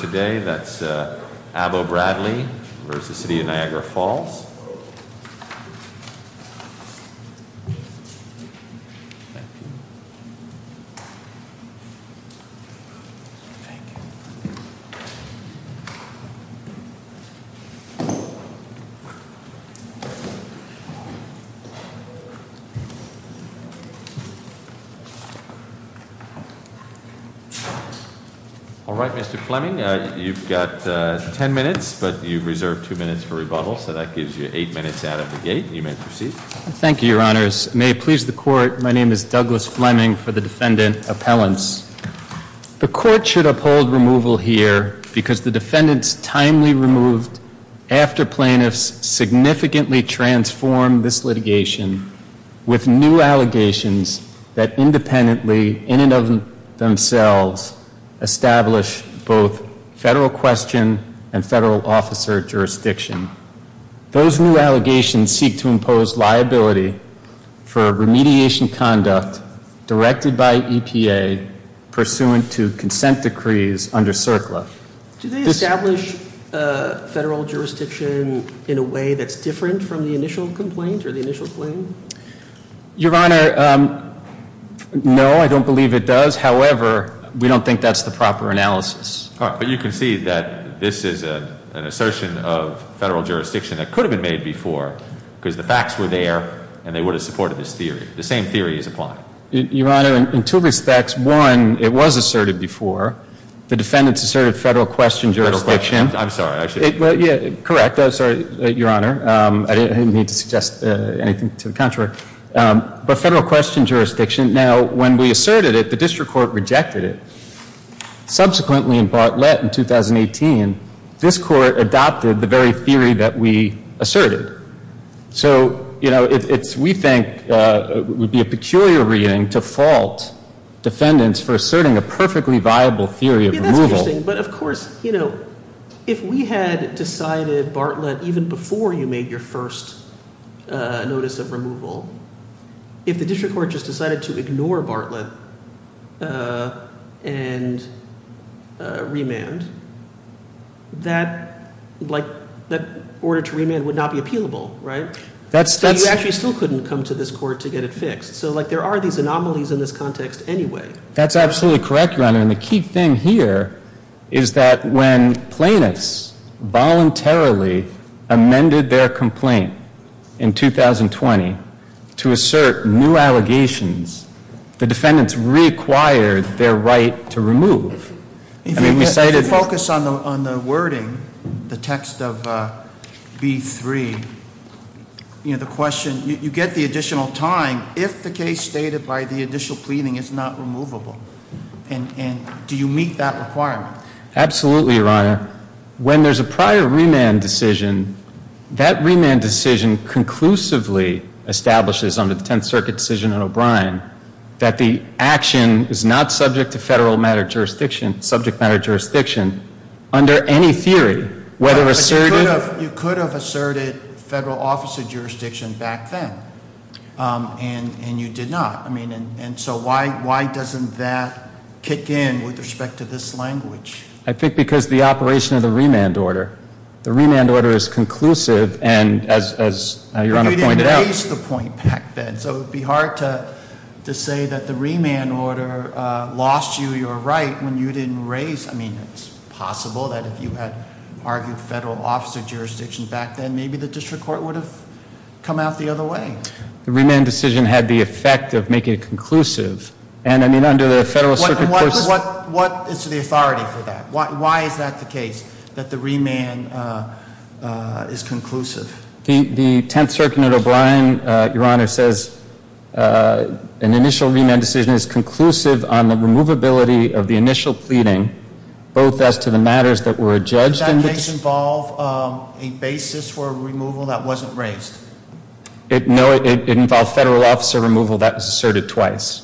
Today that's Abbo-Bradley versus the city of Niagara Falls. All right, Mr. Fleming, you've got ten minutes, but you've reserved two minutes for rebuttal, so that gives you eight minutes out of the gate. You may proceed. Thank you, Your Honors. May it please the Court, my name is Douglas Fleming for the Defendant Appellants. The Court should uphold removal here because the defendants timely removed after plaintiffs significantly transformed this litigation with new allegations that independently, in and of themselves, establish both federal question and federal officer jurisdiction. Those new allegations seek to impose liability for remediation conduct directed by EPA pursuant to consent decrees under CERCLA. Do they establish federal jurisdiction in a way that's different from the initial complaint or the initial claim? Your Honor, no, I don't believe it does. However, we don't think that's the proper analysis. All right, but you can see that this is an assertion of federal jurisdiction that could have been made before because the facts were there and they would have supported this theory. The same theory is applied. Your Honor, in two respects. One, it was asserted before. The defendants asserted federal question jurisdiction. Federal question. I'm sorry. Correct. I'm sorry, Your Honor. I didn't mean to suggest anything to the contrary. But federal question jurisdiction. Now, when we asserted it, the district court rejected it. Subsequently in Bartlett in 2018, this court adopted the very theory that we asserted. So, you know, we think it would be a peculiar reading to fault defendants for asserting a perfectly viable theory of removal. But of course, you know, if we had decided Bartlett even before you made your first notice of removal, if the district court just decided to ignore Bartlett and remand, that order to remand would not be appealable, right? You actually still couldn't come to this court to get it fixed. So, like, there are these anomalies in this context anyway. That's absolutely correct, Your Honor. And the key thing here is that when plaintiffs voluntarily amended their complaint in 2020 to assert new allegations, the defendants reacquired their right to remove. If you focus on the wording, the text of B3, you know, the question, you get the additional time if the case stated by the additional pleading is not removable. And do you meet that requirement? Absolutely, Your Honor. When there's a prior remand decision, that remand decision conclusively establishes under the Tenth Circuit decision on O'Brien that the action is not subject to federal matter jurisdiction, subject matter jurisdiction under any theory, whether asserted- But you could have asserted federal officer jurisdiction back then, and you did not. I mean, and so why doesn't that kick in with respect to this language? I think because of the operation of the remand order. The remand order is conclusive, and as Your Honor pointed out- But you didn't raise the point back then. So it would be hard to say that the remand order lost you your right when you didn't raise- I mean, it's possible that if you had argued federal officer jurisdiction back then, maybe the district court would have come out the other way. The remand decision had the effect of making it conclusive. And I mean, under the Federal Circuit- What is the authority for that? Why is that the case, that the remand is conclusive? The Tenth Circuit under O'Brien, Your Honor, says an initial remand decision is conclusive on the removability of the initial pleading, both as to the matters that were adjudged- Does that case involve a basis for removal that wasn't raised? No, it involved federal officer removal that was asserted twice.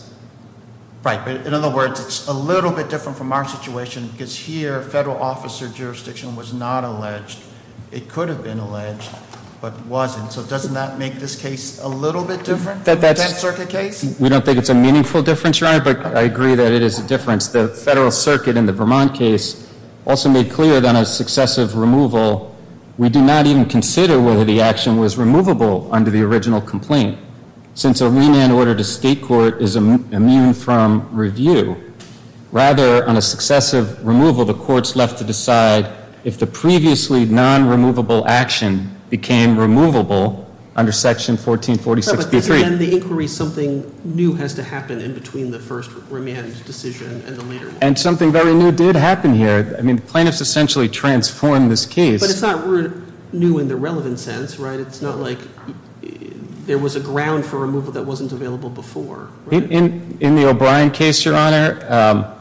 Right, but in other words, it's a little bit different from our situation because here, federal officer jurisdiction was not alleged. It could have been alleged, but wasn't. So doesn't that make this case a little bit different than the Tenth Circuit case? We don't think it's a meaningful difference, Your Honor, but I agree that it is a difference. The Federal Circuit in the Vermont case also made clear that on a successive removal, we do not even consider whether the action was removable under the original complaint, since a remand order to state court is immune from review. Rather, on a successive removal, the court's left to decide if the previously non-removable action became removable under Section 1446. But isn't in the inquiry something new has to happen in between the first remand decision and the later one? And something very new did happen here. I mean, plaintiffs essentially transformed this case. But it's not new in the relevant sense, right? It's not like there was a ground for removal that wasn't available before, right? In the O'Brien case, Your Honor,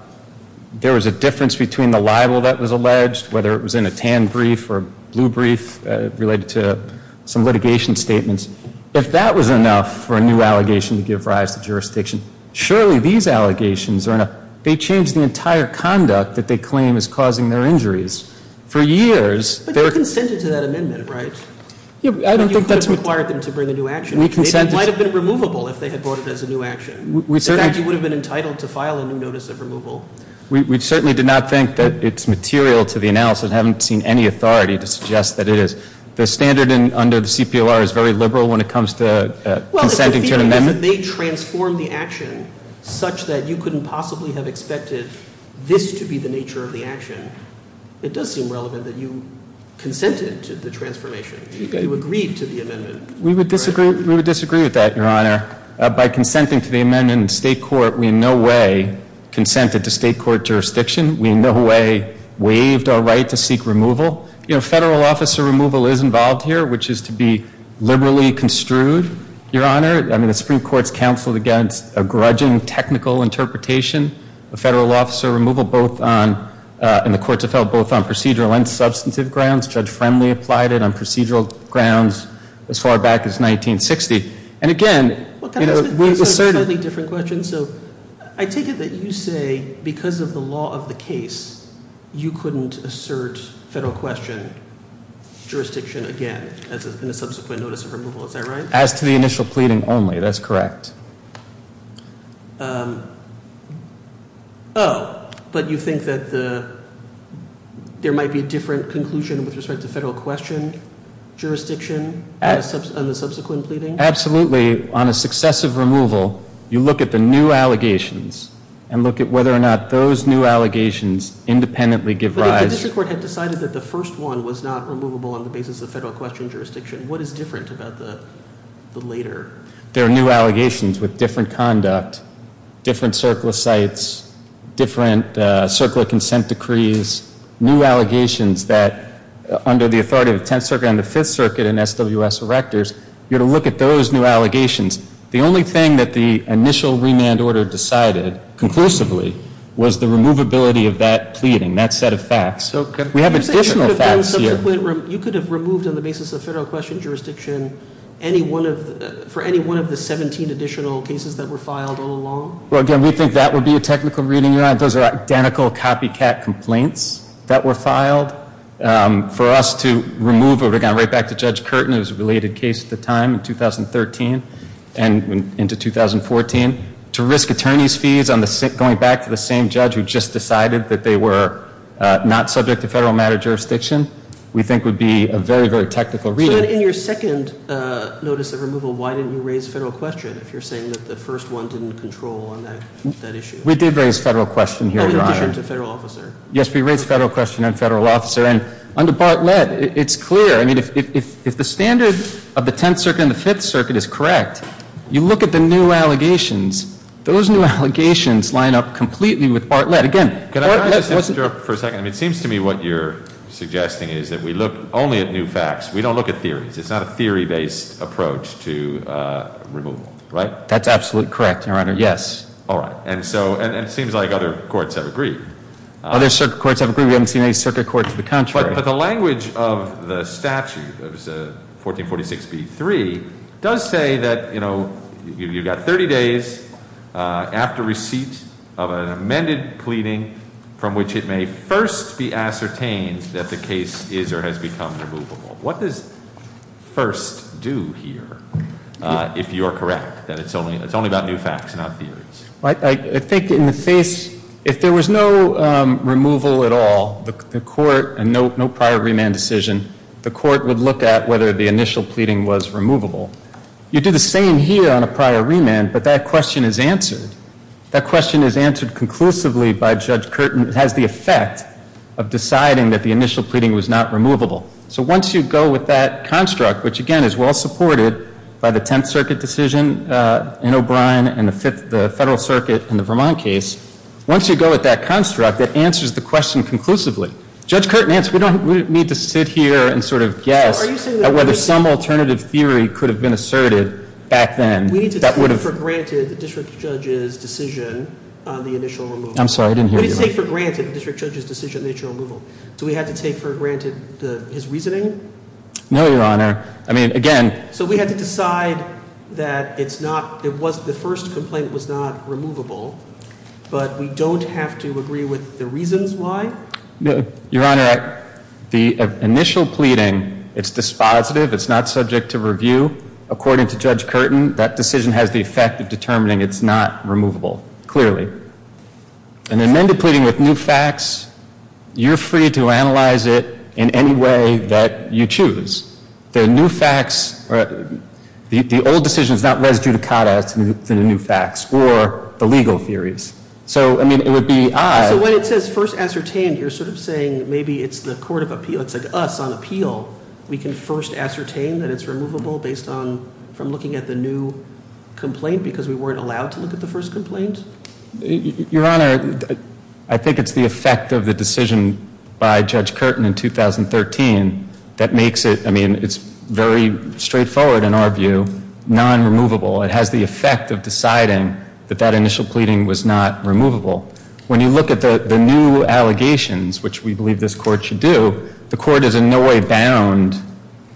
there was a difference between the libel that was alleged, whether it was in a tan brief or a blue brief related to some litigation statements. If that was enough for a new allegation to give rise to jurisdiction, surely these allegations are enough. They change the entire conduct that they claim is causing their injuries. For years, they're ---- But you consented to that amendment, right? I don't think that's what ---- Or you could have required them to bring a new action. We consented ---- It might have been removable if they had brought it as a new action. We certainly ---- In fact, you would have been entitled to file a new notice of removal. We certainly did not think that it's material to the analysis. I haven't seen any authority to suggest that it is. The standard under the CPOR is very liberal when it comes to consenting to an amendment. If they transform the action such that you couldn't possibly have expected this to be the nature of the action, it does seem relevant that you consented to the transformation. You agreed to the amendment. We would disagree with that, Your Honor. By consenting to the amendment in state court, we in no way consented to state court jurisdiction. We in no way waived our right to seek removal. Federal officer removal is involved here, which is to be liberally construed, Your Honor. I mean, the Supreme Court has counseled against a grudging technical interpretation of federal officer removal both on ---- and the courts have held both on procedural and substantive grounds. Judge Friendly applied it on procedural grounds as far back as 1960. And again ---- Well, can I ask a slightly different question? So I take it that you say because of the law of the case, you couldn't assert federal question jurisdiction again in a subsequent notice of removal. Is that right? As to the initial pleading only, that's correct. Oh, but you think that there might be a different conclusion with respect to federal question jurisdiction on the subsequent pleading? Absolutely. On a successive removal, you look at the new allegations and look at whether or not those new allegations independently give rise ---- But if the district court had decided that the first one was not removable on the basis of federal question jurisdiction, what is different about the later? There are new allegations with different conduct, different circular sites, different circular consent decrees, new allegations that under the authority of the Tenth Circuit and the Fifth Circuit and SWS erectors, you're to look at those new allegations. The only thing that the initial remand order decided conclusively was the removability of that pleading, that set of facts. We have additional facts here. You could have removed on the basis of federal question jurisdiction for any one of the 17 additional cases that were filed all along? Well, again, we think that would be a technical reading. For us to remove, if we're going right back to Judge Curtin, it was a related case at the time in 2013 and into 2014, to risk attorney's fees going back to the same judge who just decided that they were not subject to federal matter jurisdiction, we think would be a very, very technical reading. So then in your second notice of removal, why didn't you raise federal question if you're saying that the first one didn't control on that issue? We did raise federal question here, Your Honor. In addition to federal officer? Yes, we raised federal question on federal officer. And under Bartlett, it's clear. I mean, if the standard of the Tenth Circuit and the Fifth Circuit is correct, you look at the new allegations. Those new allegations line up completely with Bartlett. Again, can I just interrupt for a second? I mean, it seems to me what you're suggesting is that we look only at new facts. We don't look at theories. It's not a theory-based approach to removal, right? That's absolutely correct, Your Honor. Yes. All right. And so it seems like other courts have agreed. Other circuit courts have agreed. We haven't seen any circuit court to the contrary. But the language of the statute, 1446B3, does say that, you know, you've got 30 days after receipt of an amended pleading from which it may first be ascertained that the case is or has become removable. What does first do here, if you're correct, that it's only about new facts and not theories? I think in the face, if there was no removal at all, the court, and no prior remand decision, the court would look at whether the initial pleading was removable. You do the same here on a prior remand, but that question is answered. That question is answered conclusively by Judge Curtin. It has the effect of deciding that the initial pleading was not removable. So once you go with that construct, which again is well supported by the Tenth Circuit decision in O'Brien and the Federal Circuit in the Vermont case, once you go with that construct, that answers the question conclusively. Judge Curtin, we don't need to sit here and sort of guess at whether some alternative theory could have been asserted back then. We need to take for granted the district judge's decision on the initial removal. I'm sorry, I didn't hear you. We need to take for granted the district judge's decision on the initial removal. Do we have to take for granted his reasoning? No, Your Honor. I mean, again. So we have to decide that it's not, it was, the first complaint was not removable, but we don't have to agree with the reasons why? Your Honor, the initial pleading, it's dispositive, it's not subject to review. According to Judge Curtin, that decision has the effect of determining it's not removable, clearly. An amended pleading with new facts, you're free to analyze it in any way that you choose. The new facts, the old decision is not res judicata, it's in the new facts, or the legal theories. So, I mean, it would be I. So when it says first ascertained, you're sort of saying maybe it's the court of appeal, it's like us on appeal. We can first ascertain that it's removable based on, from looking at the new complaint because we weren't allowed to look at the first complaint? Your Honor, I think it's the effect of the decision by Judge Curtin in 2013 that makes it, I mean, it's very straightforward in our view, non-removable. It has the effect of deciding that that initial pleading was not removable. When you look at the new allegations, which we believe this court should do, the court is in no way bound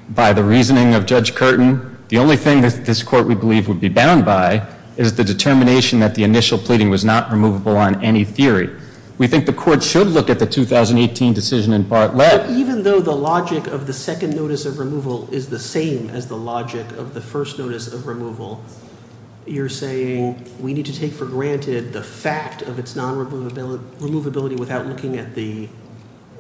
by the reasoning of Judge Curtin. The only thing that this court, we believe, would be bound by is the determination that the initial pleading was not removable on any theory. We think the court should look at the 2018 decision in part let. But even though the logic of the second notice of removal is the same as the logic of the first notice of removal, you're saying we need to take for granted the fact of its non-removability without looking at the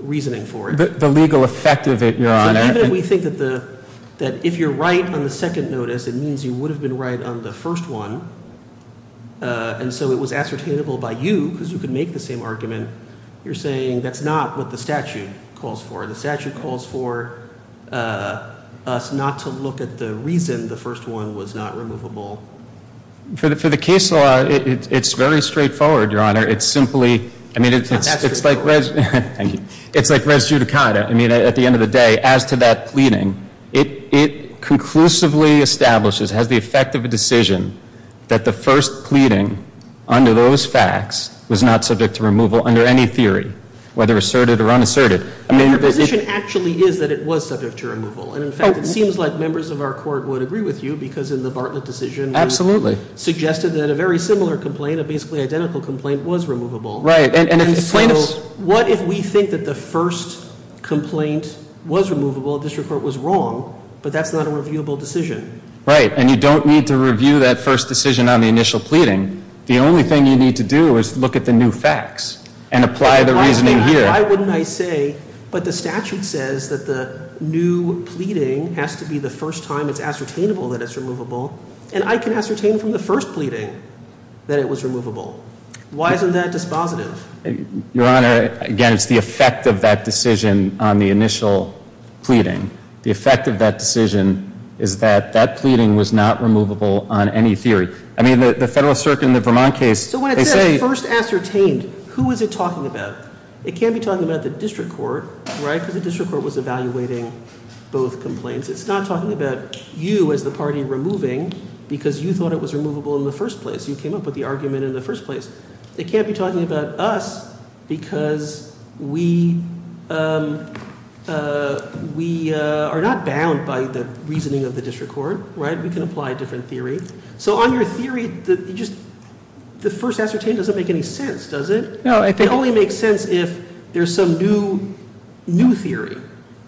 reasoning for it? The legal effect of it, Your Honor. Even if we think that if you're right on the second notice, it means you would have been right on the first one, and so it was ascertainable by you because you could make the same argument, you're saying that's not what the statute calls for. The statute calls for us not to look at the reason the first one was not removable. For the case law, it's very straightforward, Your Honor. It's simply, I mean, it's like res judicata. I mean, at the end of the day, as to that pleading, it conclusively establishes, has the effect of a decision, that the first pleading under those facts was not subject to removal under any theory, whether asserted or unasserted. Your position actually is that it was subject to removal, and in fact, it seems like members of our court would agree with you because in the Bartlett decision you suggested that a very similar complaint, a basically identical complaint, was removable. And so what if we think that the first complaint was removable, this report was wrong, but that's not a reviewable decision? Right, and you don't need to review that first decision on the initial pleading. The only thing you need to do is look at the new facts and apply the reasoning here. Why wouldn't I say, but the statute says that the new pleading has to be the first time it's ascertainable that it's removable, and I can ascertain from the first pleading that it was removable. Why isn't that dispositive? Your Honor, again, it's the effect of that decision on the initial pleading. The effect of that decision is that that pleading was not removable on any theory. I mean, the Federal Circuit in the Vermont case, they say... So when it says first ascertained, who is it talking about? It can't be talking about the district court, right, because the district court was evaluating both complaints. It's not talking about you as the party removing because you thought it was removable in the first place. You came up with the argument in the first place. It can't be talking about us because we are not bound by the reasoning of the district court, right? We can apply a different theory. So on your theory, the first ascertained doesn't make any sense, does it? It only makes sense if there's some new theory.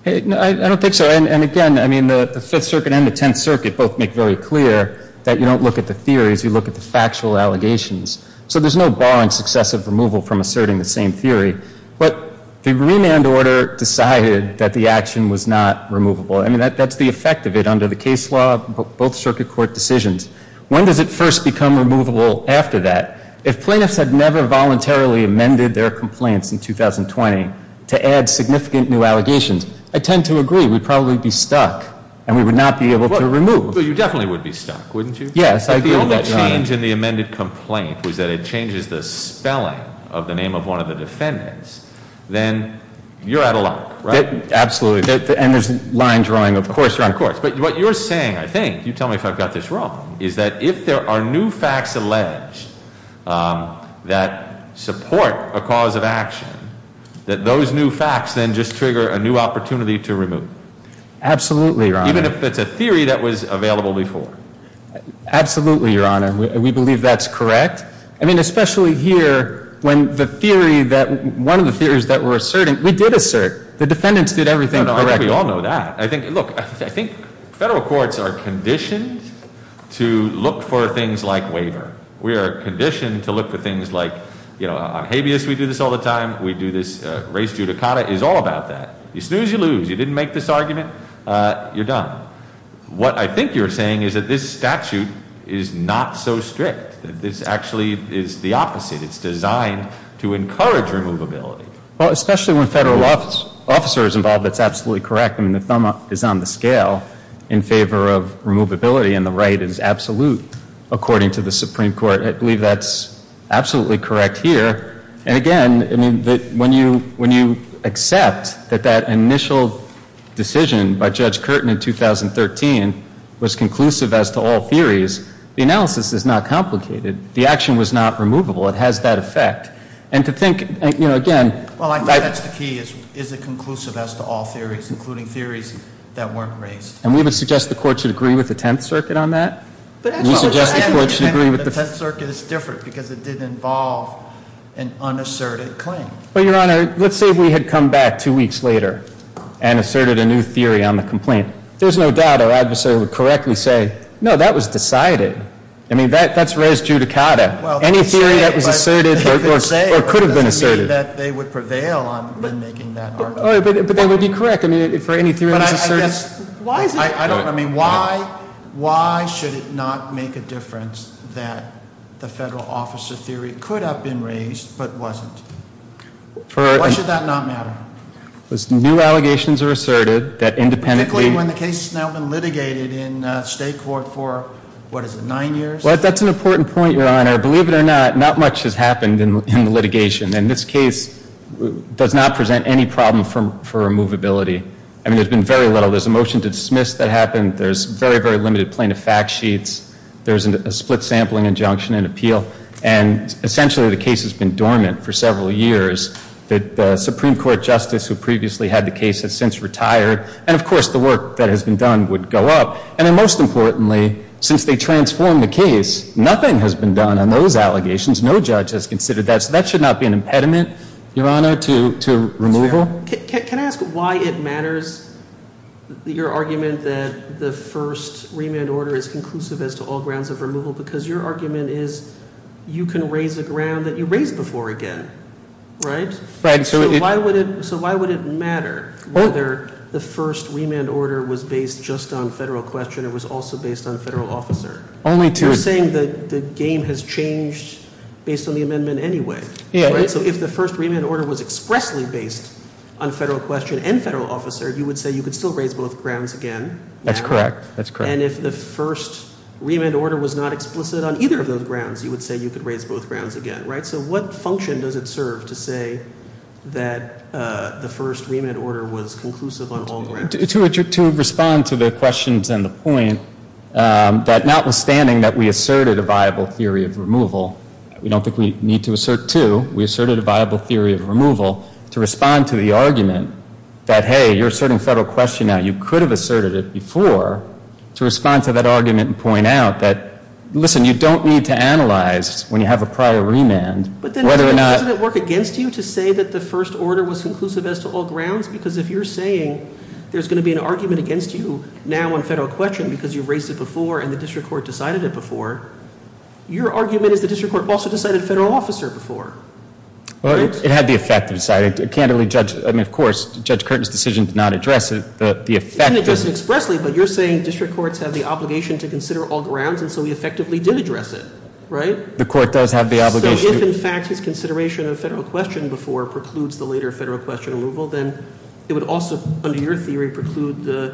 I don't think so. And again, I mean, the Fifth Circuit and the Tenth Circuit both make very clear that you don't look at the theories. You look at the factual allegations. So there's no barring successive removal from asserting the same theory. But the remand order decided that the action was not removable. I mean, that's the effect of it under the case law, both circuit court decisions. When does it first become removable after that? If plaintiffs had never voluntarily amended their complaints in 2020 to add significant new allegations, I tend to agree we'd probably be stuck and we would not be able to remove. But you definitely would be stuck, wouldn't you? Yes, I agree with that, Your Honor. If the only change in the amended complaint was that it changes the spelling of the name of one of the defendants, then you're out of luck, right? Absolutely. And there's line drawing, of course. Of course. But what you're saying, I think, you tell me if I've got this wrong, is that if there are new facts alleged that support a cause of action, Absolutely, Your Honor. even if it's a theory that was available before. Absolutely, Your Honor. We believe that's correct. I mean, especially here when one of the theories that we're asserting, we did assert. The defendants did everything correctly. I think we all know that. Look, I think federal courts are conditioned to look for things like waiver. We are conditioned to look for things like, you know, on habeas we do this all the time. We do this race judicata. It's all about that. You snooze, you lose. You didn't make this argument, you're done. What I think you're saying is that this statute is not so strict, that this actually is the opposite. It's designed to encourage removability. Well, especially when a federal officer is involved, that's absolutely correct. I mean, the thumb is on the scale in favor of removability, and the right is absolute according to the Supreme Court. I believe that's absolutely correct here. And again, I mean, when you accept that that initial decision by Judge Curtin in 2013 was conclusive as to all theories, the analysis is not complicated. The action was not removable. It has that effect. And to think, you know, again. Well, I think that's the key, is it conclusive as to all theories, including theories that weren't raised. And we would suggest the court should agree with the Tenth Circuit on that? The Tenth Circuit is different because it did involve an unasserted claim. Well, Your Honor, let's say we had come back two weeks later and asserted a new theory on the complaint. There's no doubt our adversary would correctly say, no, that was decided. I mean, that's res judicata. Any theory that was asserted or could have been asserted. It doesn't mean that they would prevail on making that argument. I mean, for any theory that was asserted. I don't know, I mean, why should it not make a difference that the federal officer theory could have been raised but wasn't? Why should that not matter? Because new allegations are asserted that independently. Particularly when the case has now been litigated in state court for, what is it, nine years? Well, that's an important point, Your Honor. Believe it or not, not much has happened in the litigation. And this case does not present any problem for removability. I mean, there's been very little. There's a motion to dismiss that happened. There's very, very limited plaintiff fact sheets. There's a split sampling injunction in appeal. And essentially the case has been dormant for several years. The Supreme Court justice who previously had the case has since retired. And, of course, the work that has been done would go up. And then most importantly, since they transformed the case, nothing has been done on those allegations. No judge has considered that. So that should not be an impediment, Your Honor, to removal. Can I ask why it matters, your argument that the first remand order is conclusive as to all grounds of removal? Because your argument is you can raise a ground that you raised before again, right? Right. So why would it matter whether the first remand order was based just on federal question or was also based on federal officer? Only to- You're saying that the game has changed based on the amendment anyway. Yeah. So if the first remand order was expressly based on federal question and federal officer, you would say you could still raise both grounds again? That's correct. And if the first remand order was not explicit on either of those grounds, you would say you could raise both grounds again, right? So what function does it serve to say that the first remand order was conclusive on all grounds? To respond to the questions and the point, that notwithstanding that we asserted a viable theory of removal, we don't think we need to assert two. We asserted a viable theory of removal to respond to the argument that, hey, you're asserting federal question now. You could have asserted it before to respond to that argument and point out that, listen, you don't need to analyze when you have a prior remand whether or not- But then doesn't it work against you to say that the first order was conclusive as to all grounds? Because if you're saying there's going to be an argument against you now on federal question because you've raised it before and the district court decided it before, your argument is the district court also decided federal officer before. Well, it had the effect to decide it. Candidly, Judge, I mean, of course, Judge Curtin's decision did not address the effect of- It didn't address it expressly, but you're saying district courts have the obligation to consider all grounds, and so we effectively did address it, right? The court does have the obligation- So if, in fact, his consideration of federal question before precludes the later federal question removal, then it would also, under your theory, preclude the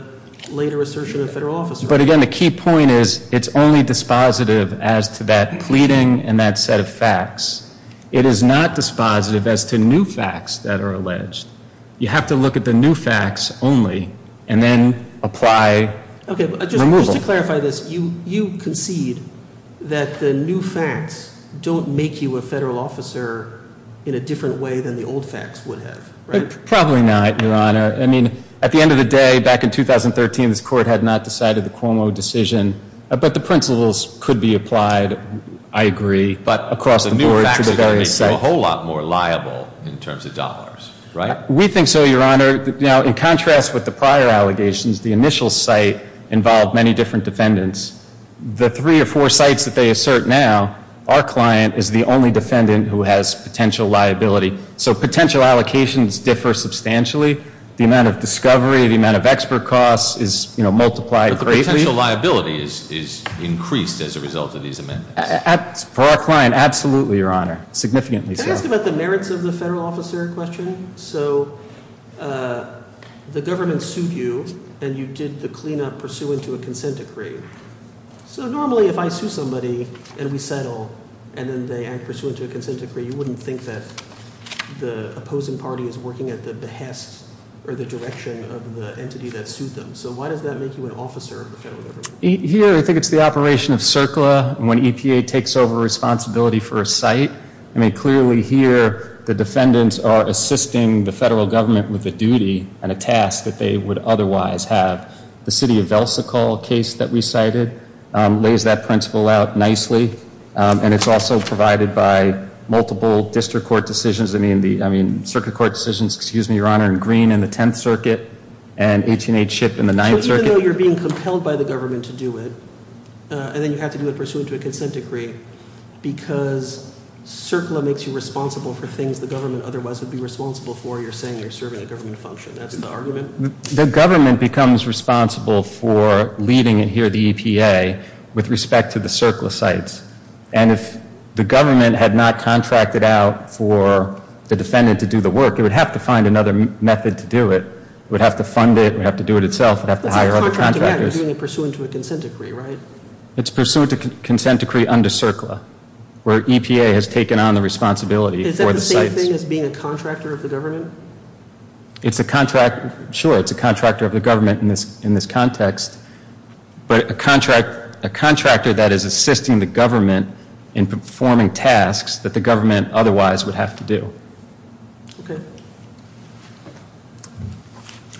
later assertion of federal officer. But again, the key point is it's only dispositive as to that pleading and that set of facts. It is not dispositive as to new facts that are alleged. You have to look at the new facts only and then apply removal. Just to clarify this, you concede that the new facts don't make you a federal officer in a different way than the old facts would have, right? Probably not, Your Honor. I mean, at the end of the day, back in 2013, this court had not decided the Cuomo decision. But the principles could be applied, I agree, across the board to the various sites. But the new facts are going to make you a whole lot more liable in terms of dollars, right? We think so, Your Honor. Now, in contrast with the prior allegations, the initial site involved many different defendants. The three or four sites that they assert now, our client is the only defendant who has potential liability. So potential allocations differ substantially. The amount of discovery, the amount of expert costs is multiplied greatly. But the potential liability is increased as a result of these amendments. For our client, absolutely, Your Honor. Significantly so. Can I ask about the merits of the federal officer question? So the government sued you and you did the cleanup pursuant to a consent decree. So normally if I sue somebody and we settle and then they act pursuant to a consent decree, you wouldn't think that the opposing party is working at the behest or the direction of the entity that sued them. So why does that make you an officer of the federal government? Here, I think it's the operation of CERCLA when EPA takes over responsibility for a site. I mean, clearly here the defendants are assisting the federal government with a duty and a task that they would otherwise have. The city of Velsicol, a case that we cited, lays that principle out nicely. And it's also provided by multiple district court decisions. I mean, circuit court decisions, Your Honor, in Green in the 10th Circuit and 18-H Ship in the 9th Circuit. So even though you're being compelled by the government to do it, and then you have to do it pursuant to a consent decree, because CERCLA makes you responsible for things the government otherwise would be responsible for, you're saying you're serving a government function. That's the argument? The government becomes responsible for leading it here, the EPA, with respect to the CERCLA sites. And if the government had not contracted out for the defendant to do the work, it would have to find another method to do it. It would have to fund it. It would have to do it itself. It would have to hire other contractors. It's not contracting out. You're doing it pursuant to a consent decree, right? It's pursuant to a consent decree under CERCLA, where EPA has taken on the responsibility for the sites. Is that the same thing as being a contractor of the government? It's a contractor. Sure, it's a contractor of the government in this context, but a contractor that is assisting the government in performing tasks that the government otherwise would have to do. Okay.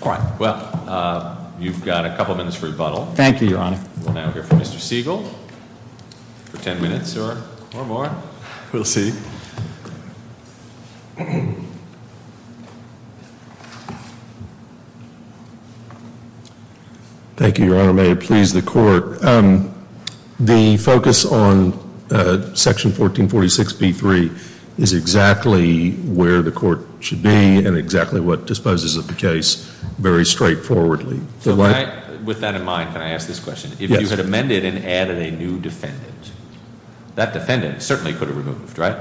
All right. Well, you've got a couple minutes for rebuttal. Thank you, Your Honor. We'll now hear from Mr. Siegel for ten minutes or more. We'll see. Thank you, Your Honor. May it please the Court. The focus on Section 1446B3 is exactly where the Court should be and exactly what disposes of the case very straightforwardly. With that in mind, can I ask this question? Yes. If you had amended and added a new defendant, that defendant certainly could have removed, right?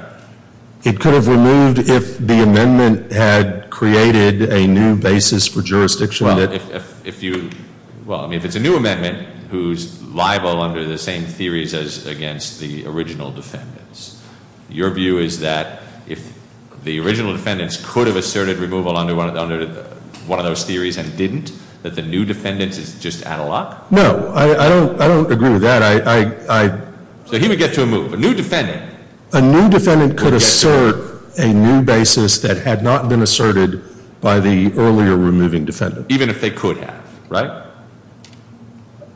It could have removed if the amendment had created a new basis for jurisdiction. Well, if you, well, I mean, if it's a new amendment who's liable under the same theories as against the original defendants, your view is that if the original defendants could have asserted removal under one of those theories and didn't, that the new defendants is just analog? No. I don't agree with that. So he would get to a move. A new defendant. A new defendant could assert a new basis that had not been asserted by the earlier removing defendant. Even if they could have, right?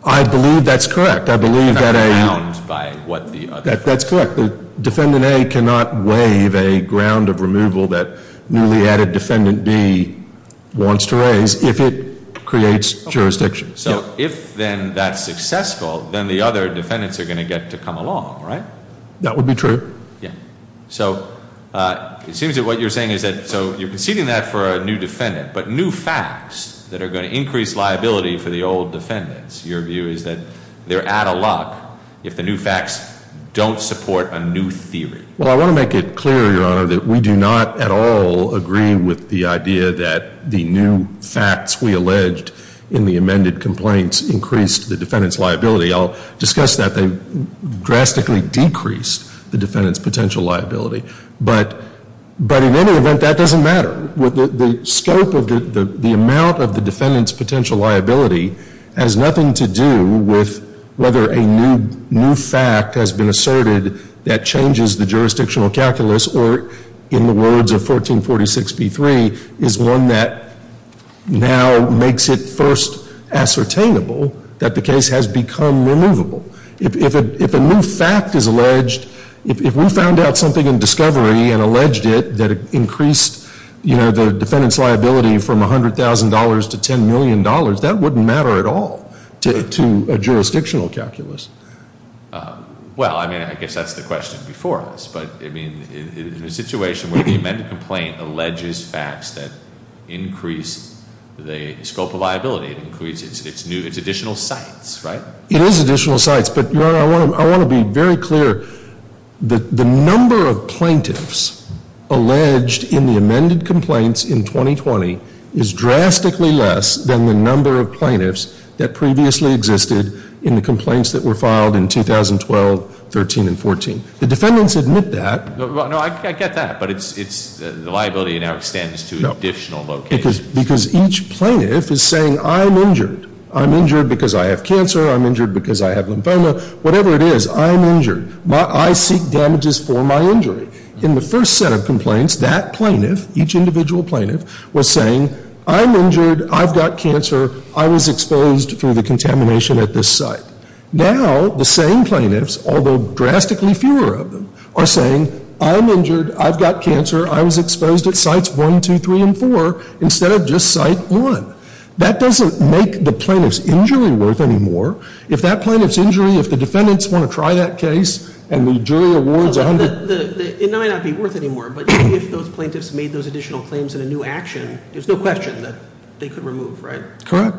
I believe that's correct. I believe that a... A ground by what the other... That's correct. Defendant A cannot waive a ground of removal that newly added defendant B wants to raise if it creates jurisdiction. So if then that's successful, then the other defendants are going to get to come along, right? That would be true. Yeah. So it seems that what you're saying is that, so you're conceding that for a new defendant, but new facts that are going to increase liability for the old defendants, your view is that they're out of luck if the new facts don't support a new theory. Well, I want to make it clear, Your Honor, that we do not at all agree with the idea that the new facts we alleged in the amended complaints increased the defendant's liability. I'll discuss that. They drastically decreased the defendant's potential liability. But in any event, that doesn't matter. The scope of the amount of the defendant's potential liability has nothing to do with whether a new fact has been asserted that changes the jurisdictional calculus or, in the words of 1446b-3, is one that now makes it first ascertainable that the case has become removable. If a new fact is alleged, if we found out something in discovery and alleged it, that it increased the defendant's liability from $100,000 to $10 million, that wouldn't matter at all to a jurisdictional calculus. Well, I mean, I guess that's the question before us. But, I mean, in a situation where the amended complaint alleges facts that increase the scope of liability, it increases its additional sites, right? It is additional sites. But, Your Honor, I want to be very clear that the number of plaintiffs alleged in the amended complaints in 2020 is drastically less than the number of plaintiffs that previously existed in the complaints that were filed in 2012, 13, and 14. The defendants admit that. No, I get that. But the liability now extends to additional locations. Because each plaintiff is saying, I'm injured. I'm injured because I have cancer. I'm injured because I have lymphoma. Whatever it is, I'm injured. I seek damages for my injury. In the first set of complaints, that plaintiff, each individual plaintiff, was saying, I'm injured. I've got cancer. I was exposed through the contamination at this site. Now, the same plaintiffs, although drastically fewer of them, are saying, I'm injured. I've got cancer. I was exposed at Sites 1, 2, 3, and 4 instead of just Site 1. That doesn't make the plaintiff's injury worth any more. If that plaintiff's injury, if the defendants want to try that case and the jury awards a hundred. It may not be worth any more, but if those plaintiffs made those additional claims in a new action, there's no question that they could remove, right? Correct.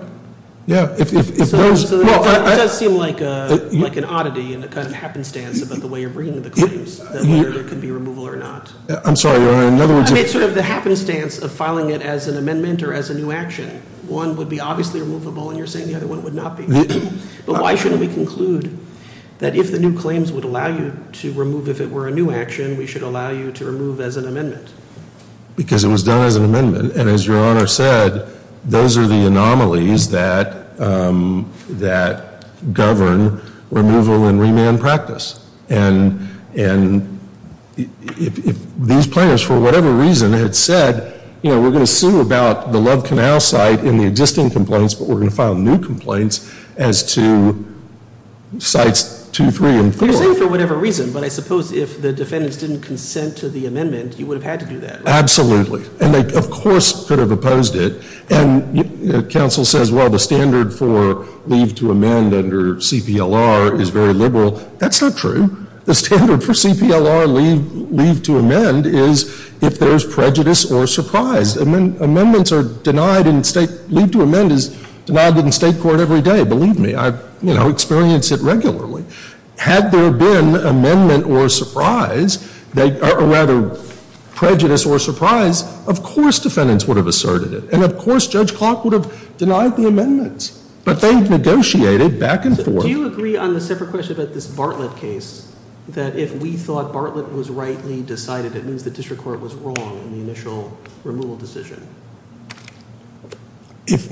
Yeah. It does seem like an oddity and a kind of happenstance about the way you're bringing the claims, whether there could be removal or not. I'm sorry, Your Honor. I mean, it's sort of the happenstance of filing it as an amendment or as a new action. One would be obviously removable, and you're saying the other one would not be. But why shouldn't we conclude that if the new claims would allow you to remove if it were a new action, we should allow you to remove as an amendment? Because it was done as an amendment, and as Your Honor said, those are the anomalies that govern removal and remand practice. And if these plaintiffs, for whatever reason, had said, you know, we're going to sue about the Love Canal site in the existing complaints, but we're going to file new complaints as to Sites 2, 3, and 4. Well, you're saying for whatever reason, but I suppose if the defendants didn't consent to the amendment, you would have had to do that, right? Absolutely. And they, of course, could have opposed it. And counsel says, well, the standard for leave to amend under CPLR is very liberal. That's not true. The standard for CPLR leave to amend is if there's prejudice or surprise. Amendments are denied in state – leave to amend is denied in state court every day. Believe me. I, you know, experience it regularly. Had there been amendment or surprise, or rather prejudice or surprise, of course defendants would have asserted it. And of course Judge Clark would have denied the amendments. But they negotiated back and forth. Do you agree on the separate question about this Bartlett case, that if we thought Bartlett was rightly decided, it means the district court was wrong in the initial removal decision?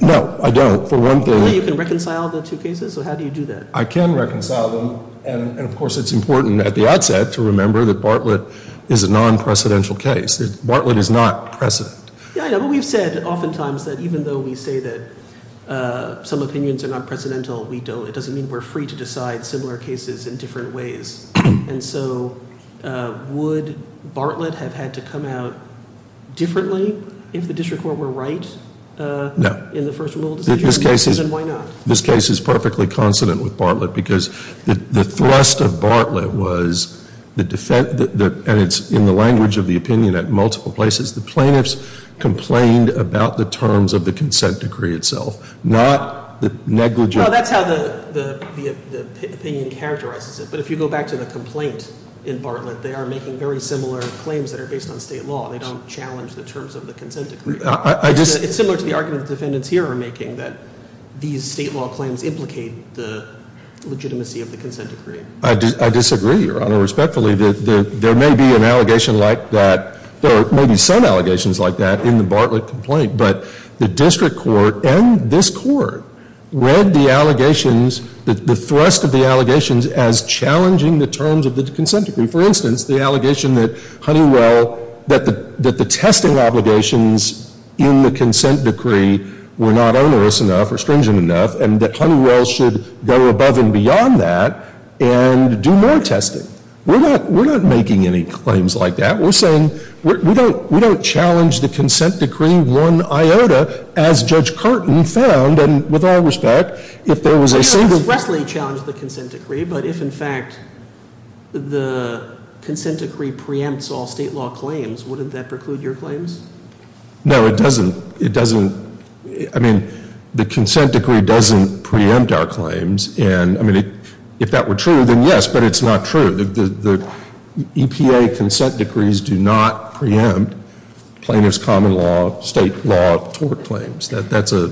No, I don't. For one thing – Only you can reconcile the two cases? So how do you do that? I can reconcile them. And, of course, it's important at the outset to remember that Bartlett is a non-precedential case. Bartlett is not precedent. Yeah, I know. But we've said oftentimes that even though we say that some opinions are not precedental, we don't – it doesn't mean we're free to decide similar cases in different ways. And so would Bartlett have had to come out differently if the district court were right in the first removal decision? No. Then why not? This case is perfectly consonant with Bartlett because the thrust of Bartlett was the – and it's in the language of the opinion at multiple places. The plaintiffs complained about the terms of the consent decree itself, not the negligent – No, that's how the opinion characterizes it. But if you go back to the complaint in Bartlett, they are making very similar claims that are based on state law. They don't challenge the terms of the consent decree. It's similar to the argument the defendants here are making that these state law claims implicate the legitimacy of the consent decree. I disagree, Your Honor, respectfully. There may be an allegation like that – there may be some allegations like that in the Bartlett complaint. But the district court and this court read the allegations – the thrust of the allegations as challenging the terms of the consent decree. For instance, the allegation that Honeywell – that the testing obligations in the consent decree were not onerous enough or stringent enough, and that Honeywell should go above and beyond that and do more testing. We're not making any claims like that. We're saying we don't challenge the consent decree one iota as Judge Carton found, and with all respect, if there was a single – if the consent decree preempts all state law claims, wouldn't that preclude your claims? No, it doesn't. It doesn't. I mean, the consent decree doesn't preempt our claims. And, I mean, if that were true, then yes, but it's not true. The EPA consent decrees do not preempt plaintiffs' common law, state law, tort claims. That's a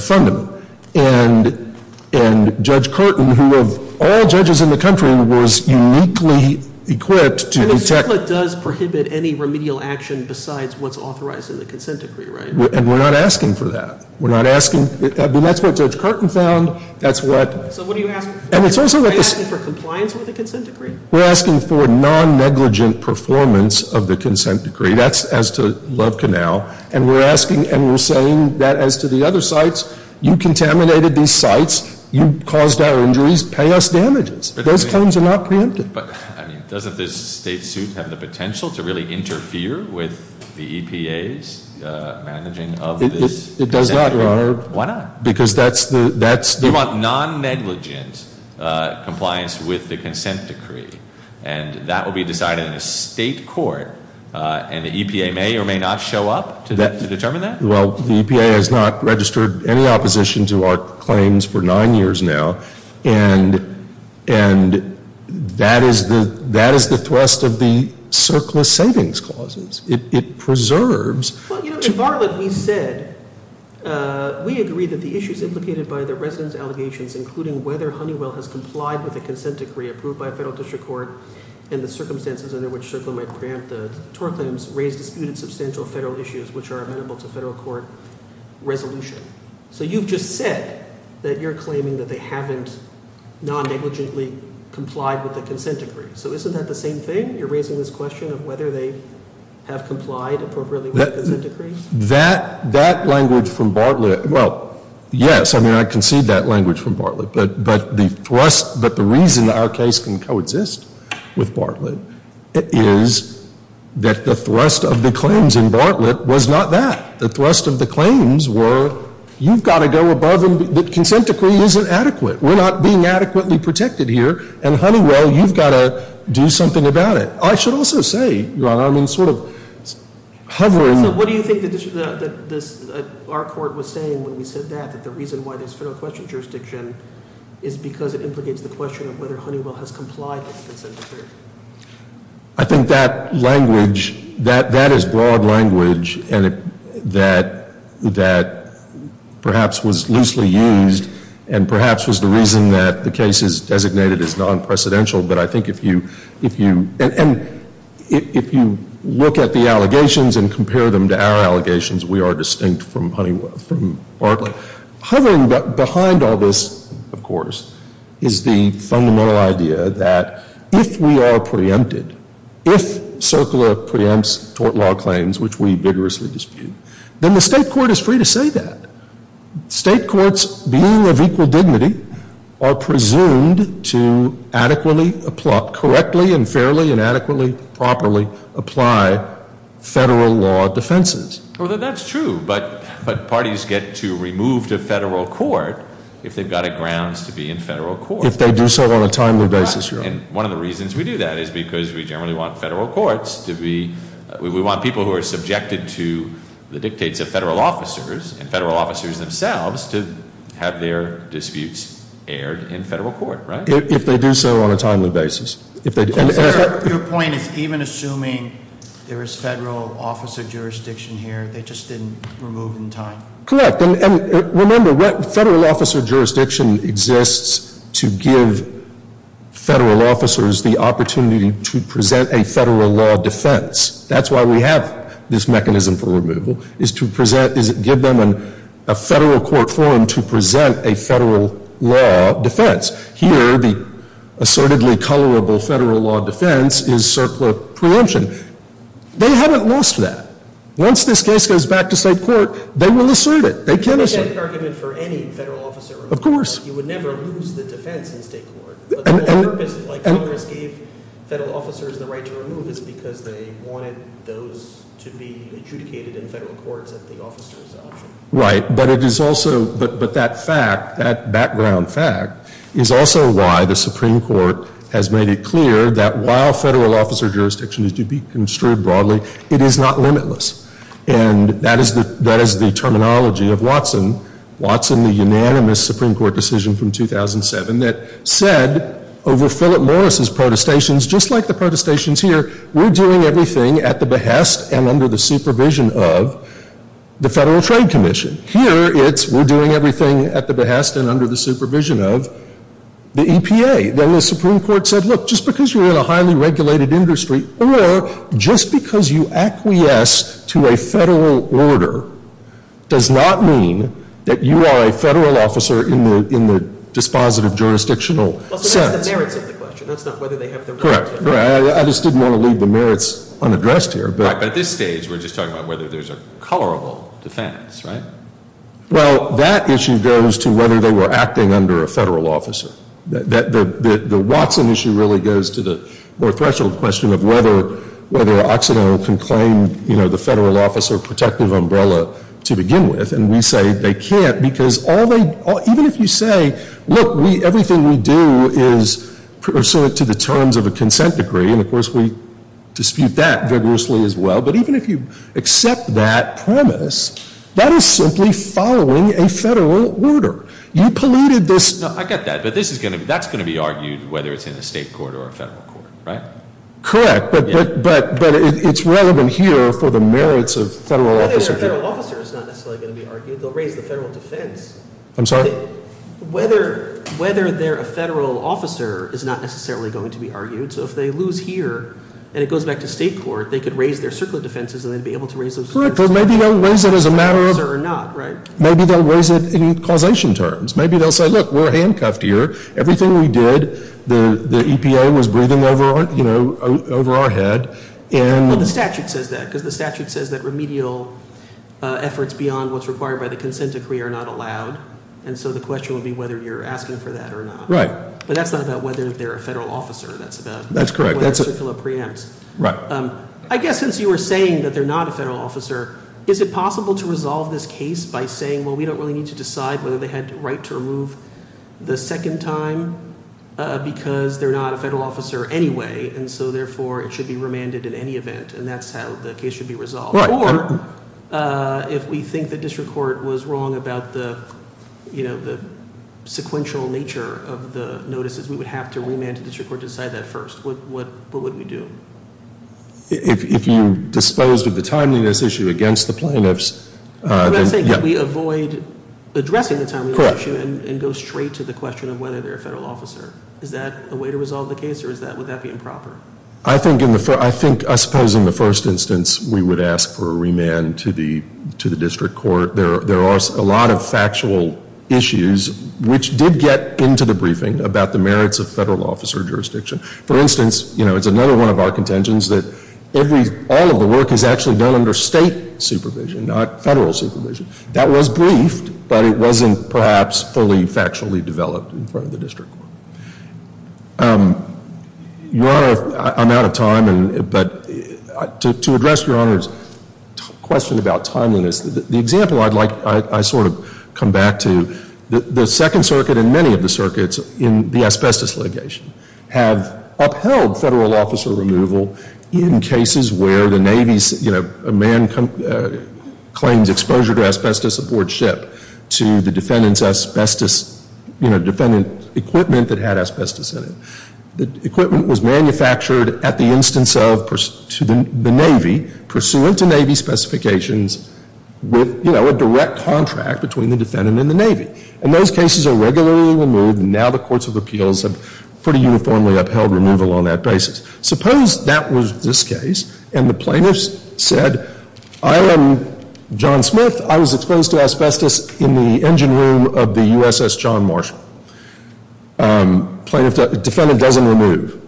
fundamental. And Judge Carton, who of all judges in the country, was uniquely equipped to detect – And the district court does prohibit any remedial action besides what's authorized in the consent decree, right? And we're not asking for that. We're not asking – I mean, that's what Judge Carton found. That's what – So what are you asking? And it's also – Are you asking for compliance with the consent decree? We're asking for non-negligent performance of the consent decree. That's as to Love Canal. And we're asking and we're saying that as to the other sites. You contaminated these sites. You caused our injuries. Pay us damages. Those claims are not preempted. But, I mean, doesn't this state suit have the potential to really interfere with the EPA's managing of this consent decree? It does not, Your Honor. Why not? Because that's the – You want non-negligent compliance with the consent decree. And that will be decided in the state court. And the EPA may or may not show up to determine that? Well, the EPA has not registered any opposition to our claims for nine years now. And that is the thrust of the Circlist Savings Clause. It preserves – Well, you know, in Bartlett we said – including whether Honeywell has complied with a consent decree approved by a federal district court and the circumstances under which Circlist might preempt the Tor claims raise disputed substantial federal issues, which are amenable to federal court resolution. So you've just said that you're claiming that they haven't non-negligently complied with the consent decree. So isn't that the same thing? You're raising this question of whether they have complied appropriately with the consent decree? That language from Bartlett – Well, yes. I mean, I concede that language from Bartlett. But the thrust – but the reason our case can coexist with Bartlett is that the thrust of the claims in Bartlett was not that. The thrust of the claims were you've got to go above and – the consent decree isn't adequate. We're not being adequately protected here. And Honeywell, you've got to do something about it. I should also say, Your Honor, I'm in sort of hovering – when we said that, that the reason why there's federal question jurisdiction is because it implicates the question of whether Honeywell has complied with the consent decree. I think that language – that is broad language that perhaps was loosely used and perhaps was the reason that the case is designated as non-precedential. But I think if you – and if you look at the allegations and compare them to our allegations, we are distinct from Honeywell – from Bartlett. Hovering behind all this, of course, is the fundamental idea that if we are preempted, if CERCLA preempts tort law claims, which we vigorously dispute, then the state court is free to say that. State courts, being of equal dignity, are presumed to adequately – correctly and fairly and adequately, properly apply federal law defenses. Well, that's true. But parties get to remove to federal court if they've got a grounds to be in federal court. If they do so on a timely basis, Your Honor. And one of the reasons we do that is because we generally want federal courts to be – we want people who are subjected to the dictates of federal officers and federal officers themselves to have their disputes aired in federal court, right? If they do so on a timely basis. Your point is even assuming there is federal officer jurisdiction here, they just didn't remove in time. Correct. And remember, federal officer jurisdiction exists to give federal officers the opportunity to present a federal law defense. That's why we have this mechanism for removal, is to present – is give them a federal court form to present a federal law defense. Here, the assertedly colorable federal law defense is circular preemption. They haven't lost that. Once this case goes back to state court, they will assert it. They can assert it. But is that an argument for any federal officer removal? Of course. You would never lose the defense in state court. But the whole purpose, like Congress gave federal officers the right to remove, is because they wanted those to be adjudicated in federal courts at the officer's option. Right. But it is also – but that fact, that background fact, is also why the Supreme Court has made it clear that while federal officer jurisdiction is to be construed broadly, it is not limitless. And that is the terminology of Watson. Watson, the unanimous Supreme Court decision from 2007 that said over Philip Morris' protestations, just like the protestations here, we're doing everything at the behest and under the supervision of the Federal Trade Commission. Here, it's we're doing everything at the behest and under the supervision of the EPA. Then the Supreme Court said, look, just because you're in a highly regulated industry or just because you acquiesce to a federal order does not mean that you are a federal officer in the dispositive jurisdictional sense. Well, so that's the merits of the question. That's not whether they have the right to remove. Right. I just didn't want to leave the merits unaddressed here. Right. But at this stage, we're just talking about whether there's a colorable defense, right? Well, that issue goes to whether they were acting under a federal officer. The Watson issue really goes to the more threshold question of whether Occidental can claim, you know, the federal officer protective umbrella to begin with. And we say they can't because all they – even if you say, look, everything we do is pursuant to the terms of a consent decree. And, of course, we dispute that vigorously as well. But even if you accept that premise, that is simply following a federal order. You polluted this – No, I get that. But this is going to – that's going to be argued whether it's in a state court or a federal court, right? Correct. But it's relevant here for the merits of federal officer – Whether they're a federal officer is not necessarily going to be argued. They'll raise the federal defense. I'm sorry? Whether they're a federal officer is not necessarily going to be argued. So if they lose here and it goes back to state court, they could raise their circular defenses and they'd be able to raise those – Correct. But maybe they'll raise it as a matter of – Federal officer or not, right? Maybe they'll raise it in causation terms. Maybe they'll say, look, we're handcuffed here. Everything we did, the EPA was breathing over our – you know, over our head. And – Well, the statute says that because the statute says that remedial efforts beyond what's required by the consent decree are not allowed. And so the question would be whether you're asking for that or not. Right. But that's not about whether they're a federal officer. That's about – That's correct. Circular preempts. Right. I guess since you were saying that they're not a federal officer, is it possible to resolve this case by saying, well, we don't really need to decide whether they had the right to remove the second time because they're not a federal officer anyway? And so, therefore, it should be remanded in any event, and that's how the case should be resolved. Right. If we think the district court was wrong about the, you know, the sequential nature of the notices, we would have to remand the district court to decide that first. What would we do? If you disposed of the timeliness issue against the plaintiffs – You're not saying that we avoid addressing the timeliness issue and go straight to the question of whether they're a federal officer. Is that a way to resolve the case, or is that – would that be improper? I think in the – I suppose in the first instance we would ask for a remand to the district court. There are a lot of factual issues, which did get into the briefing about the merits of federal officer jurisdiction. For instance, you know, it's another one of our contentions that all of the work is actually done under state supervision, not federal supervision. That was briefed, but it wasn't perhaps fully factually developed in front of the district court. Your Honor, I'm out of time, but to address Your Honor's question about timeliness, the example I'd like – I sort of come back to, the Second Circuit and many of the circuits in the asbestos litigation have upheld federal officer removal in cases where the Navy, you know, claims exposure to asbestos aboard ship to the defendant's asbestos – you know, defendant equipment that had asbestos in it. The equipment was manufactured at the instance of – to the Navy pursuant to Navy specifications with, you know, a direct contract between the defendant and the Navy. And those cases are regularly removed, and now the courts of appeals have pretty uniformly upheld removal on that basis. Suppose that was this case, and the plaintiff said, I am John Smith. I was exposed to asbestos in the engine room of the USS John Marshall. Plaintiff – defendant doesn't remove.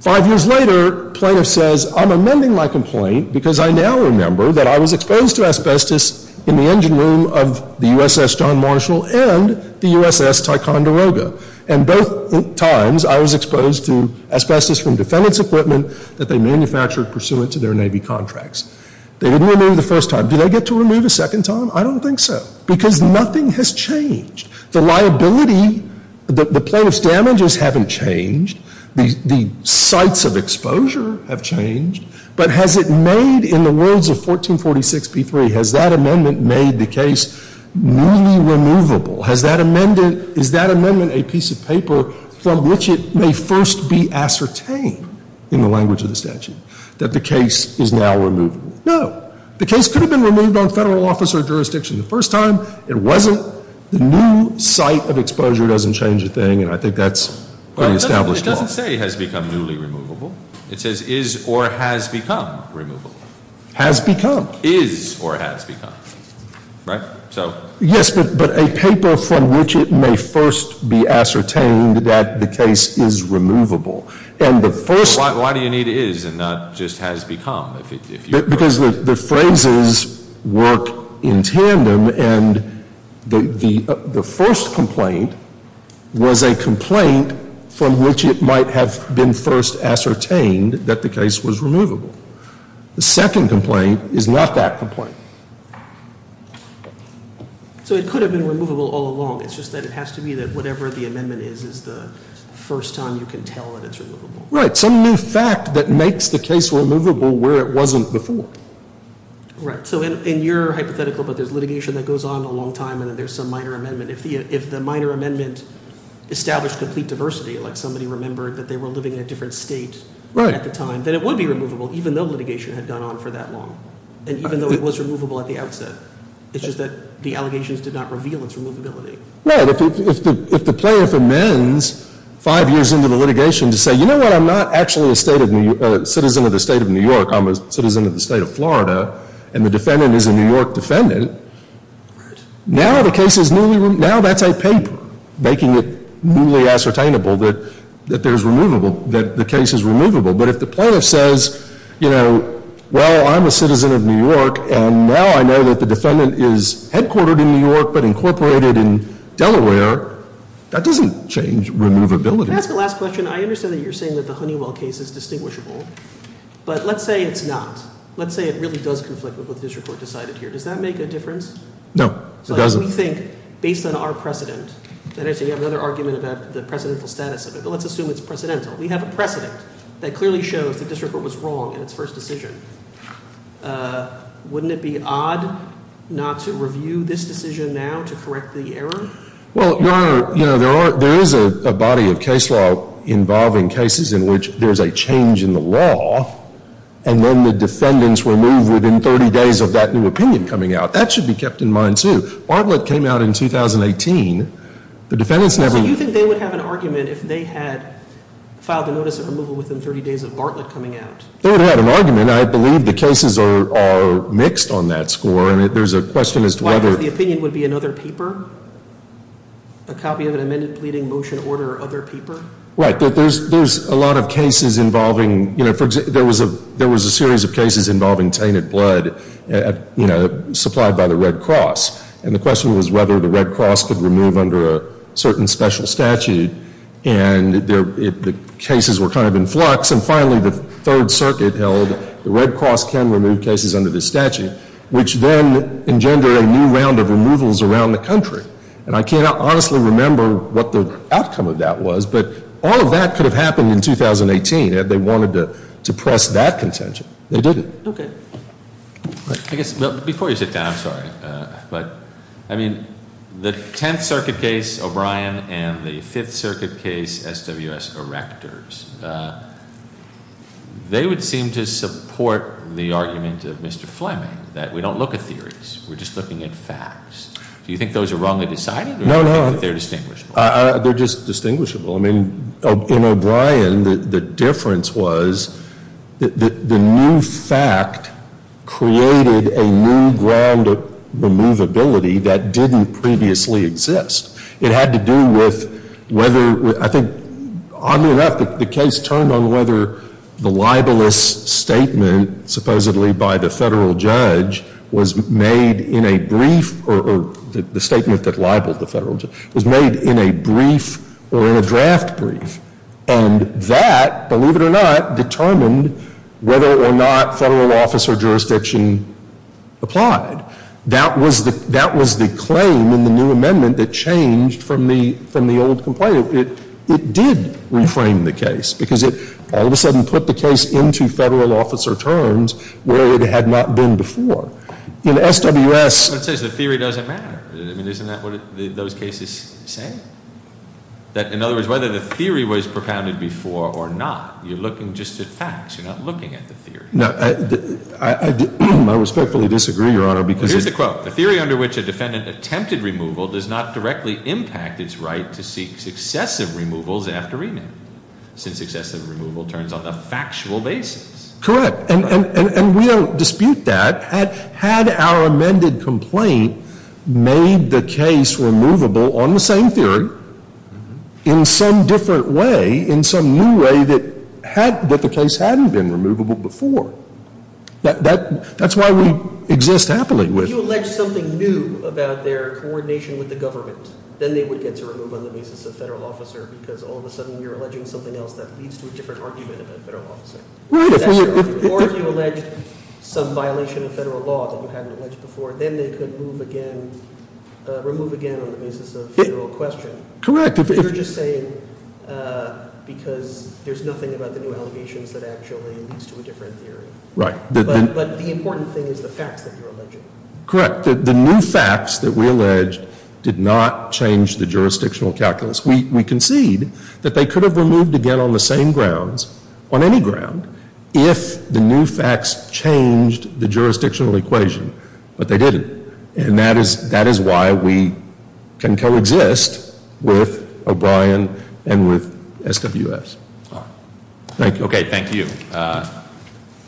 Five years later, plaintiff says, I'm amending my complaint because I now remember that I was exposed to asbestos in the engine room of the USS John Marshall and the USS Ticonderoga. And both times, I was exposed to asbestos from defendant's equipment that they manufactured pursuant to their Navy contracts. They didn't remove the first time. Do they get to remove a second time? I don't think so, because nothing has changed. The liability – the plaintiff's damages haven't changed. The sites of exposure have changed. But has it made, in the words of 1446b3, has that amendment made the case newly removable? Has that amendment – is that amendment a piece of paper from which it may first be ascertained, in the language of the statute, that the case is now removable? No. The case could have been removed on federal office or jurisdiction the first time. It wasn't. The new site of exposure doesn't change a thing, and I think that's pretty established law. Well, it doesn't say has become newly removable. It says is or has become removable. Has become. Is or has become. Right? Yes, but a paper from which it may first be ascertained that the case is removable. Why do you need is and not just has become? Because the phrases work in tandem, and the first complaint was a complaint from which it might have been first ascertained that the case was removable. The second complaint is not that complaint. So it could have been removable all along. It's just that it has to be that whatever the amendment is is the first time you can tell that it's removable. Right. Some new fact that makes the case removable where it wasn't before. Right. So in your hypothetical, but there's litigation that goes on a long time, and then there's some minor amendment. If the minor amendment established complete diversity, like somebody remembered that they were living in a different state at the time, then it would be removable even though litigation had gone on for that long, and even though it was removable at the outset. It's just that the allegations did not reveal its removability. Right. If the plaintiff amends five years into the litigation to say, you know what? I'm not actually a citizen of the state of New York. I'm a citizen of the state of Florida, and the defendant is a New York defendant. Right. Now the case is newly removable. Now that's a paper making it newly ascertainable that the case is removable. But if the plaintiff says, you know, well, I'm a citizen of New York, and now I know that the defendant is headquartered in New York but incorporated in Delaware, that doesn't change removability. Can I ask a last question? I understand that you're saying that the Honeywell case is distinguishable, but let's say it's not. Let's say it really does conflict with what the district court decided here. Does that make a difference? No, it doesn't. So we think, based on our precedent, that is, you have another argument about the precedental status of it, but let's assume it's precedental. We have a precedent that clearly shows the district court was wrong in its first decision. Wouldn't it be odd not to review this decision now to correct the error? Well, Your Honor, you know, there is a body of case law involving cases in which there's a change in the law, and then the defendants were moved within 30 days of that new opinion coming out. That should be kept in mind, too. Bartlett came out in 2018. The defendants never— filed a notice of removal within 30 days of Bartlett coming out. They would have had an argument. I believe the cases are mixed on that score, and there's a question as to whether— Why, because the opinion would be another paper? A copy of an amended pleading motion order or other paper? Right. There's a lot of cases involving—you know, there was a series of cases involving tainted blood, you know, supplied by the Red Cross, and the question was whether the Red Cross could remove under a certain special statute, and the cases were kind of in flux, and finally the Third Circuit held the Red Cross can remove cases under this statute, which then engendered a new round of removals around the country. And I cannot honestly remember what the outcome of that was, but all of that could have happened in 2018 if they wanted to press that contention. They didn't. Okay. I guess—before you sit down, I'm sorry. But, I mean, the Tenth Circuit case, O'Brien, and the Fifth Circuit case, SWS Erectors, they would seem to support the argument of Mr. Fleming that we don't look at theories. We're just looking at facts. Do you think those are wrongly decided? No, no. Or do you think that they're distinguishable? They're just distinguishable. I mean, in O'Brien, the difference was that the new fact created a new round of removability that didn't previously exist. It had to do with whether—I think, oddly enough, the case turned on whether the libelous statement, supposedly by the federal judge, was made in a brief—or the statement that libeled the federal judge— was made in a brief or in a draft brief. And that, believe it or not, determined whether or not federal officer jurisdiction applied. That was the claim in the new amendment that changed from the old complaint. It did reframe the case because it all of a sudden put the case into federal officer terms where it had not been before. In SWS— What it says is the theory doesn't matter. I mean, isn't that what those cases say? That, in other words, whether the theory was propounded before or not, you're looking just at facts. You're not looking at the theory. No, I respectfully disagree, Your Honor, because— Here's the quote. The theory under which a defendant attempted removal does not directly impact its right to seek successive removals after remand, since excessive removal turns on the factual basis. Correct. And we don't dispute that. Had our amended complaint made the case removable on the same theory in some different way, in some new way that the case hadn't been removable before, that's why we exist happily with it. If you allege something new about their coordination with the government, then they would get to remove on the basis of federal officer because all of a sudden you're alleging something else that leads to a different argument about federal officer. Right. Or if you allege some violation of federal law that you hadn't alleged before, then they could remove again on the basis of federal question. Correct. You're just saying because there's nothing about the new allegations that actually leads to a different theory. Right. But the important thing is the facts that you're alleging. Correct. The new facts that we allege did not change the jurisdictional calculus. We concede that they could have removed again on the same grounds, on any ground, if the new facts changed the jurisdictional equation, but they didn't. And that is why we can coexist with O'Brien and with SWFs. Thank you. Okay, thank you.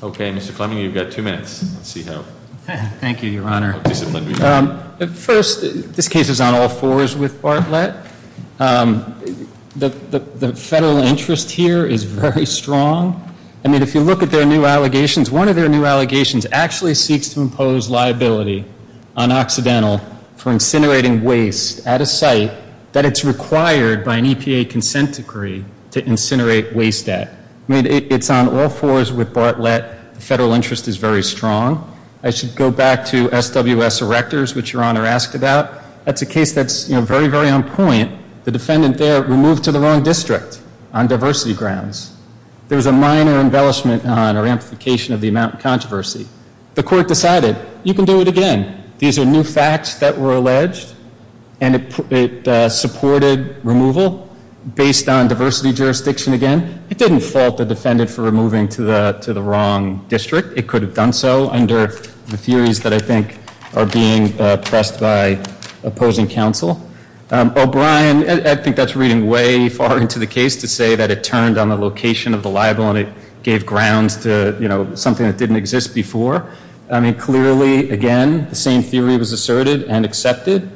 Okay, Mr. Fleming, you've got two minutes. Let's see how disciplined we are. Thank you, Your Honor. First, this case is on all fours with Bartlett. The federal interest here is very strong. I mean, if you look at their new allegations, one of their new allegations actually seeks to impose liability on Occidental for incinerating waste at a site that it's required by an EPA consent decree to incinerate waste at. I mean, it's on all fours with Bartlett. The federal interest is very strong. I should go back to SWS Erectors, which Your Honor asked about. That's a case that's, you know, very, very on point. The defendant there removed to the wrong district on diversity grounds. There was a minor embellishment on or amplification of the amount of controversy. The court decided, you can do it again. These are new facts that were alleged, and it supported removal based on diversity jurisdiction again. It didn't fault the defendant for removing to the wrong district. It could have done so under the theories that I think are being pressed by opposing counsel. O'Brien, I think that's reading way far into the case to say that it turned on the location of the libel and it gave grounds to, you know, something that didn't exist before. I mean, clearly, again, the same theory was asserted and accepted.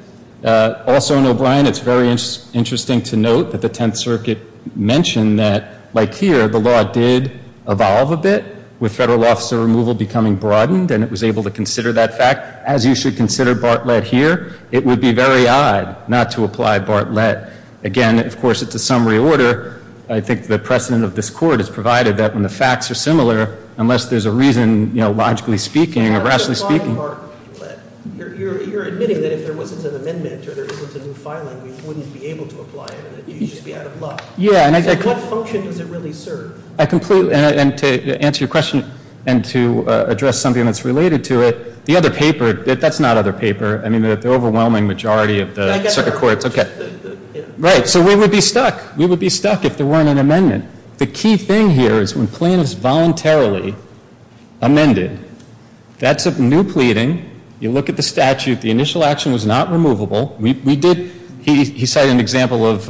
Also in O'Brien, it's very interesting to note that the Tenth Circuit mentioned that, like here, the law did evolve a bit with federal officer removal becoming broadened, and it was able to consider that fact. As you should consider Bartlett here, it would be very odd not to apply Bartlett. Again, of course, it's a summary order. I think the precedent of this court is provided that when the facts are similar, unless there's a reason, you know, logically speaking or rationally speaking. You're admitting that if there wasn't an amendment or there wasn't a new filing, you wouldn't be able to apply it and you'd just be out of luck. So what function does it really serve? And to answer your question and to address something that's related to it, the other paper, that's not other paper. I mean, the overwhelming majority of the circuit courts. Right, so we would be stuck. We would be stuck if there weren't an amendment. The key thing here is when plaintiffs voluntarily amended, that's a new pleading. You look at the statute. The initial action was not removable. He cited an example of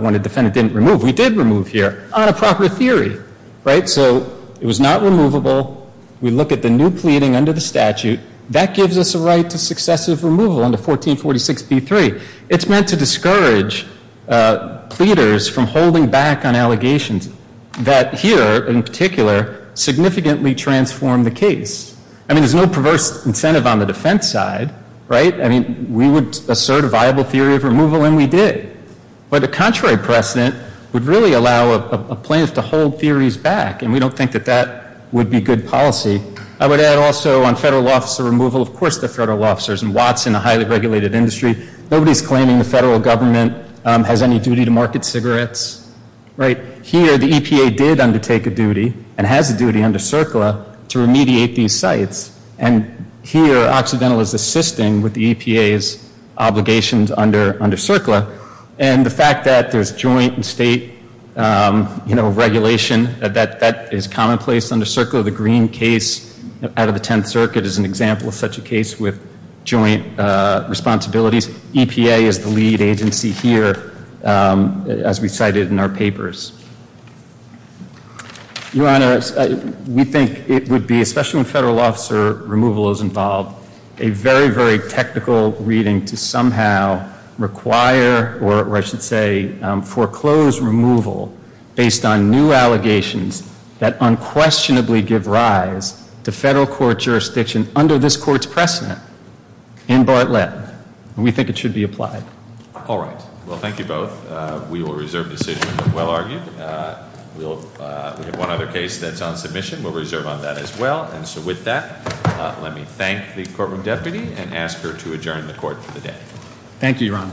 when a defendant didn't remove. We did remove here on a proper theory, right? So it was not removable. We look at the new pleading under the statute. That gives us a right to successive removal under 1446B3. It's meant to discourage pleaders from holding back on allegations that here, in particular, significantly transformed the case. I mean, there's no perverse incentive on the defense side, right? I mean, we would assert a viable theory of removal, and we did. But a contrary precedent would really allow a plaintiff to hold theories back, and we don't think that that would be good policy. I would add also on federal law officer removal, of course there are federal law officers. And Watson, a highly regulated industry, nobody's claiming the federal government has any duty to market cigarettes, right? Here, the EPA did undertake a duty and has a duty under CERCLA to remediate these sites. And here, Occidental is assisting with the EPA's obligations under CERCLA. And the fact that there's joint state, you know, regulation, that is commonplace under CERCLA. The Green case out of the Tenth Circuit is an example of such a case with joint responsibilities. EPA is the lead agency here, as we cited in our papers. Your Honor, we think it would be, especially when federal law officer removal is involved, a very, very technical reading to somehow require or I should say foreclose removal based on new allegations that unquestionably give rise to federal court jurisdiction under this court's precedent in Bartlett. And we think it should be applied. All right. Well, thank you both. We will reserve the decision of the well-argued. We have one other case that's on submission. We'll reserve on that as well. And so with that, let me thank the courtroom deputy and ask her to adjourn the court for the day. Thank you, Your Honor. Thank you. Court is adjourned.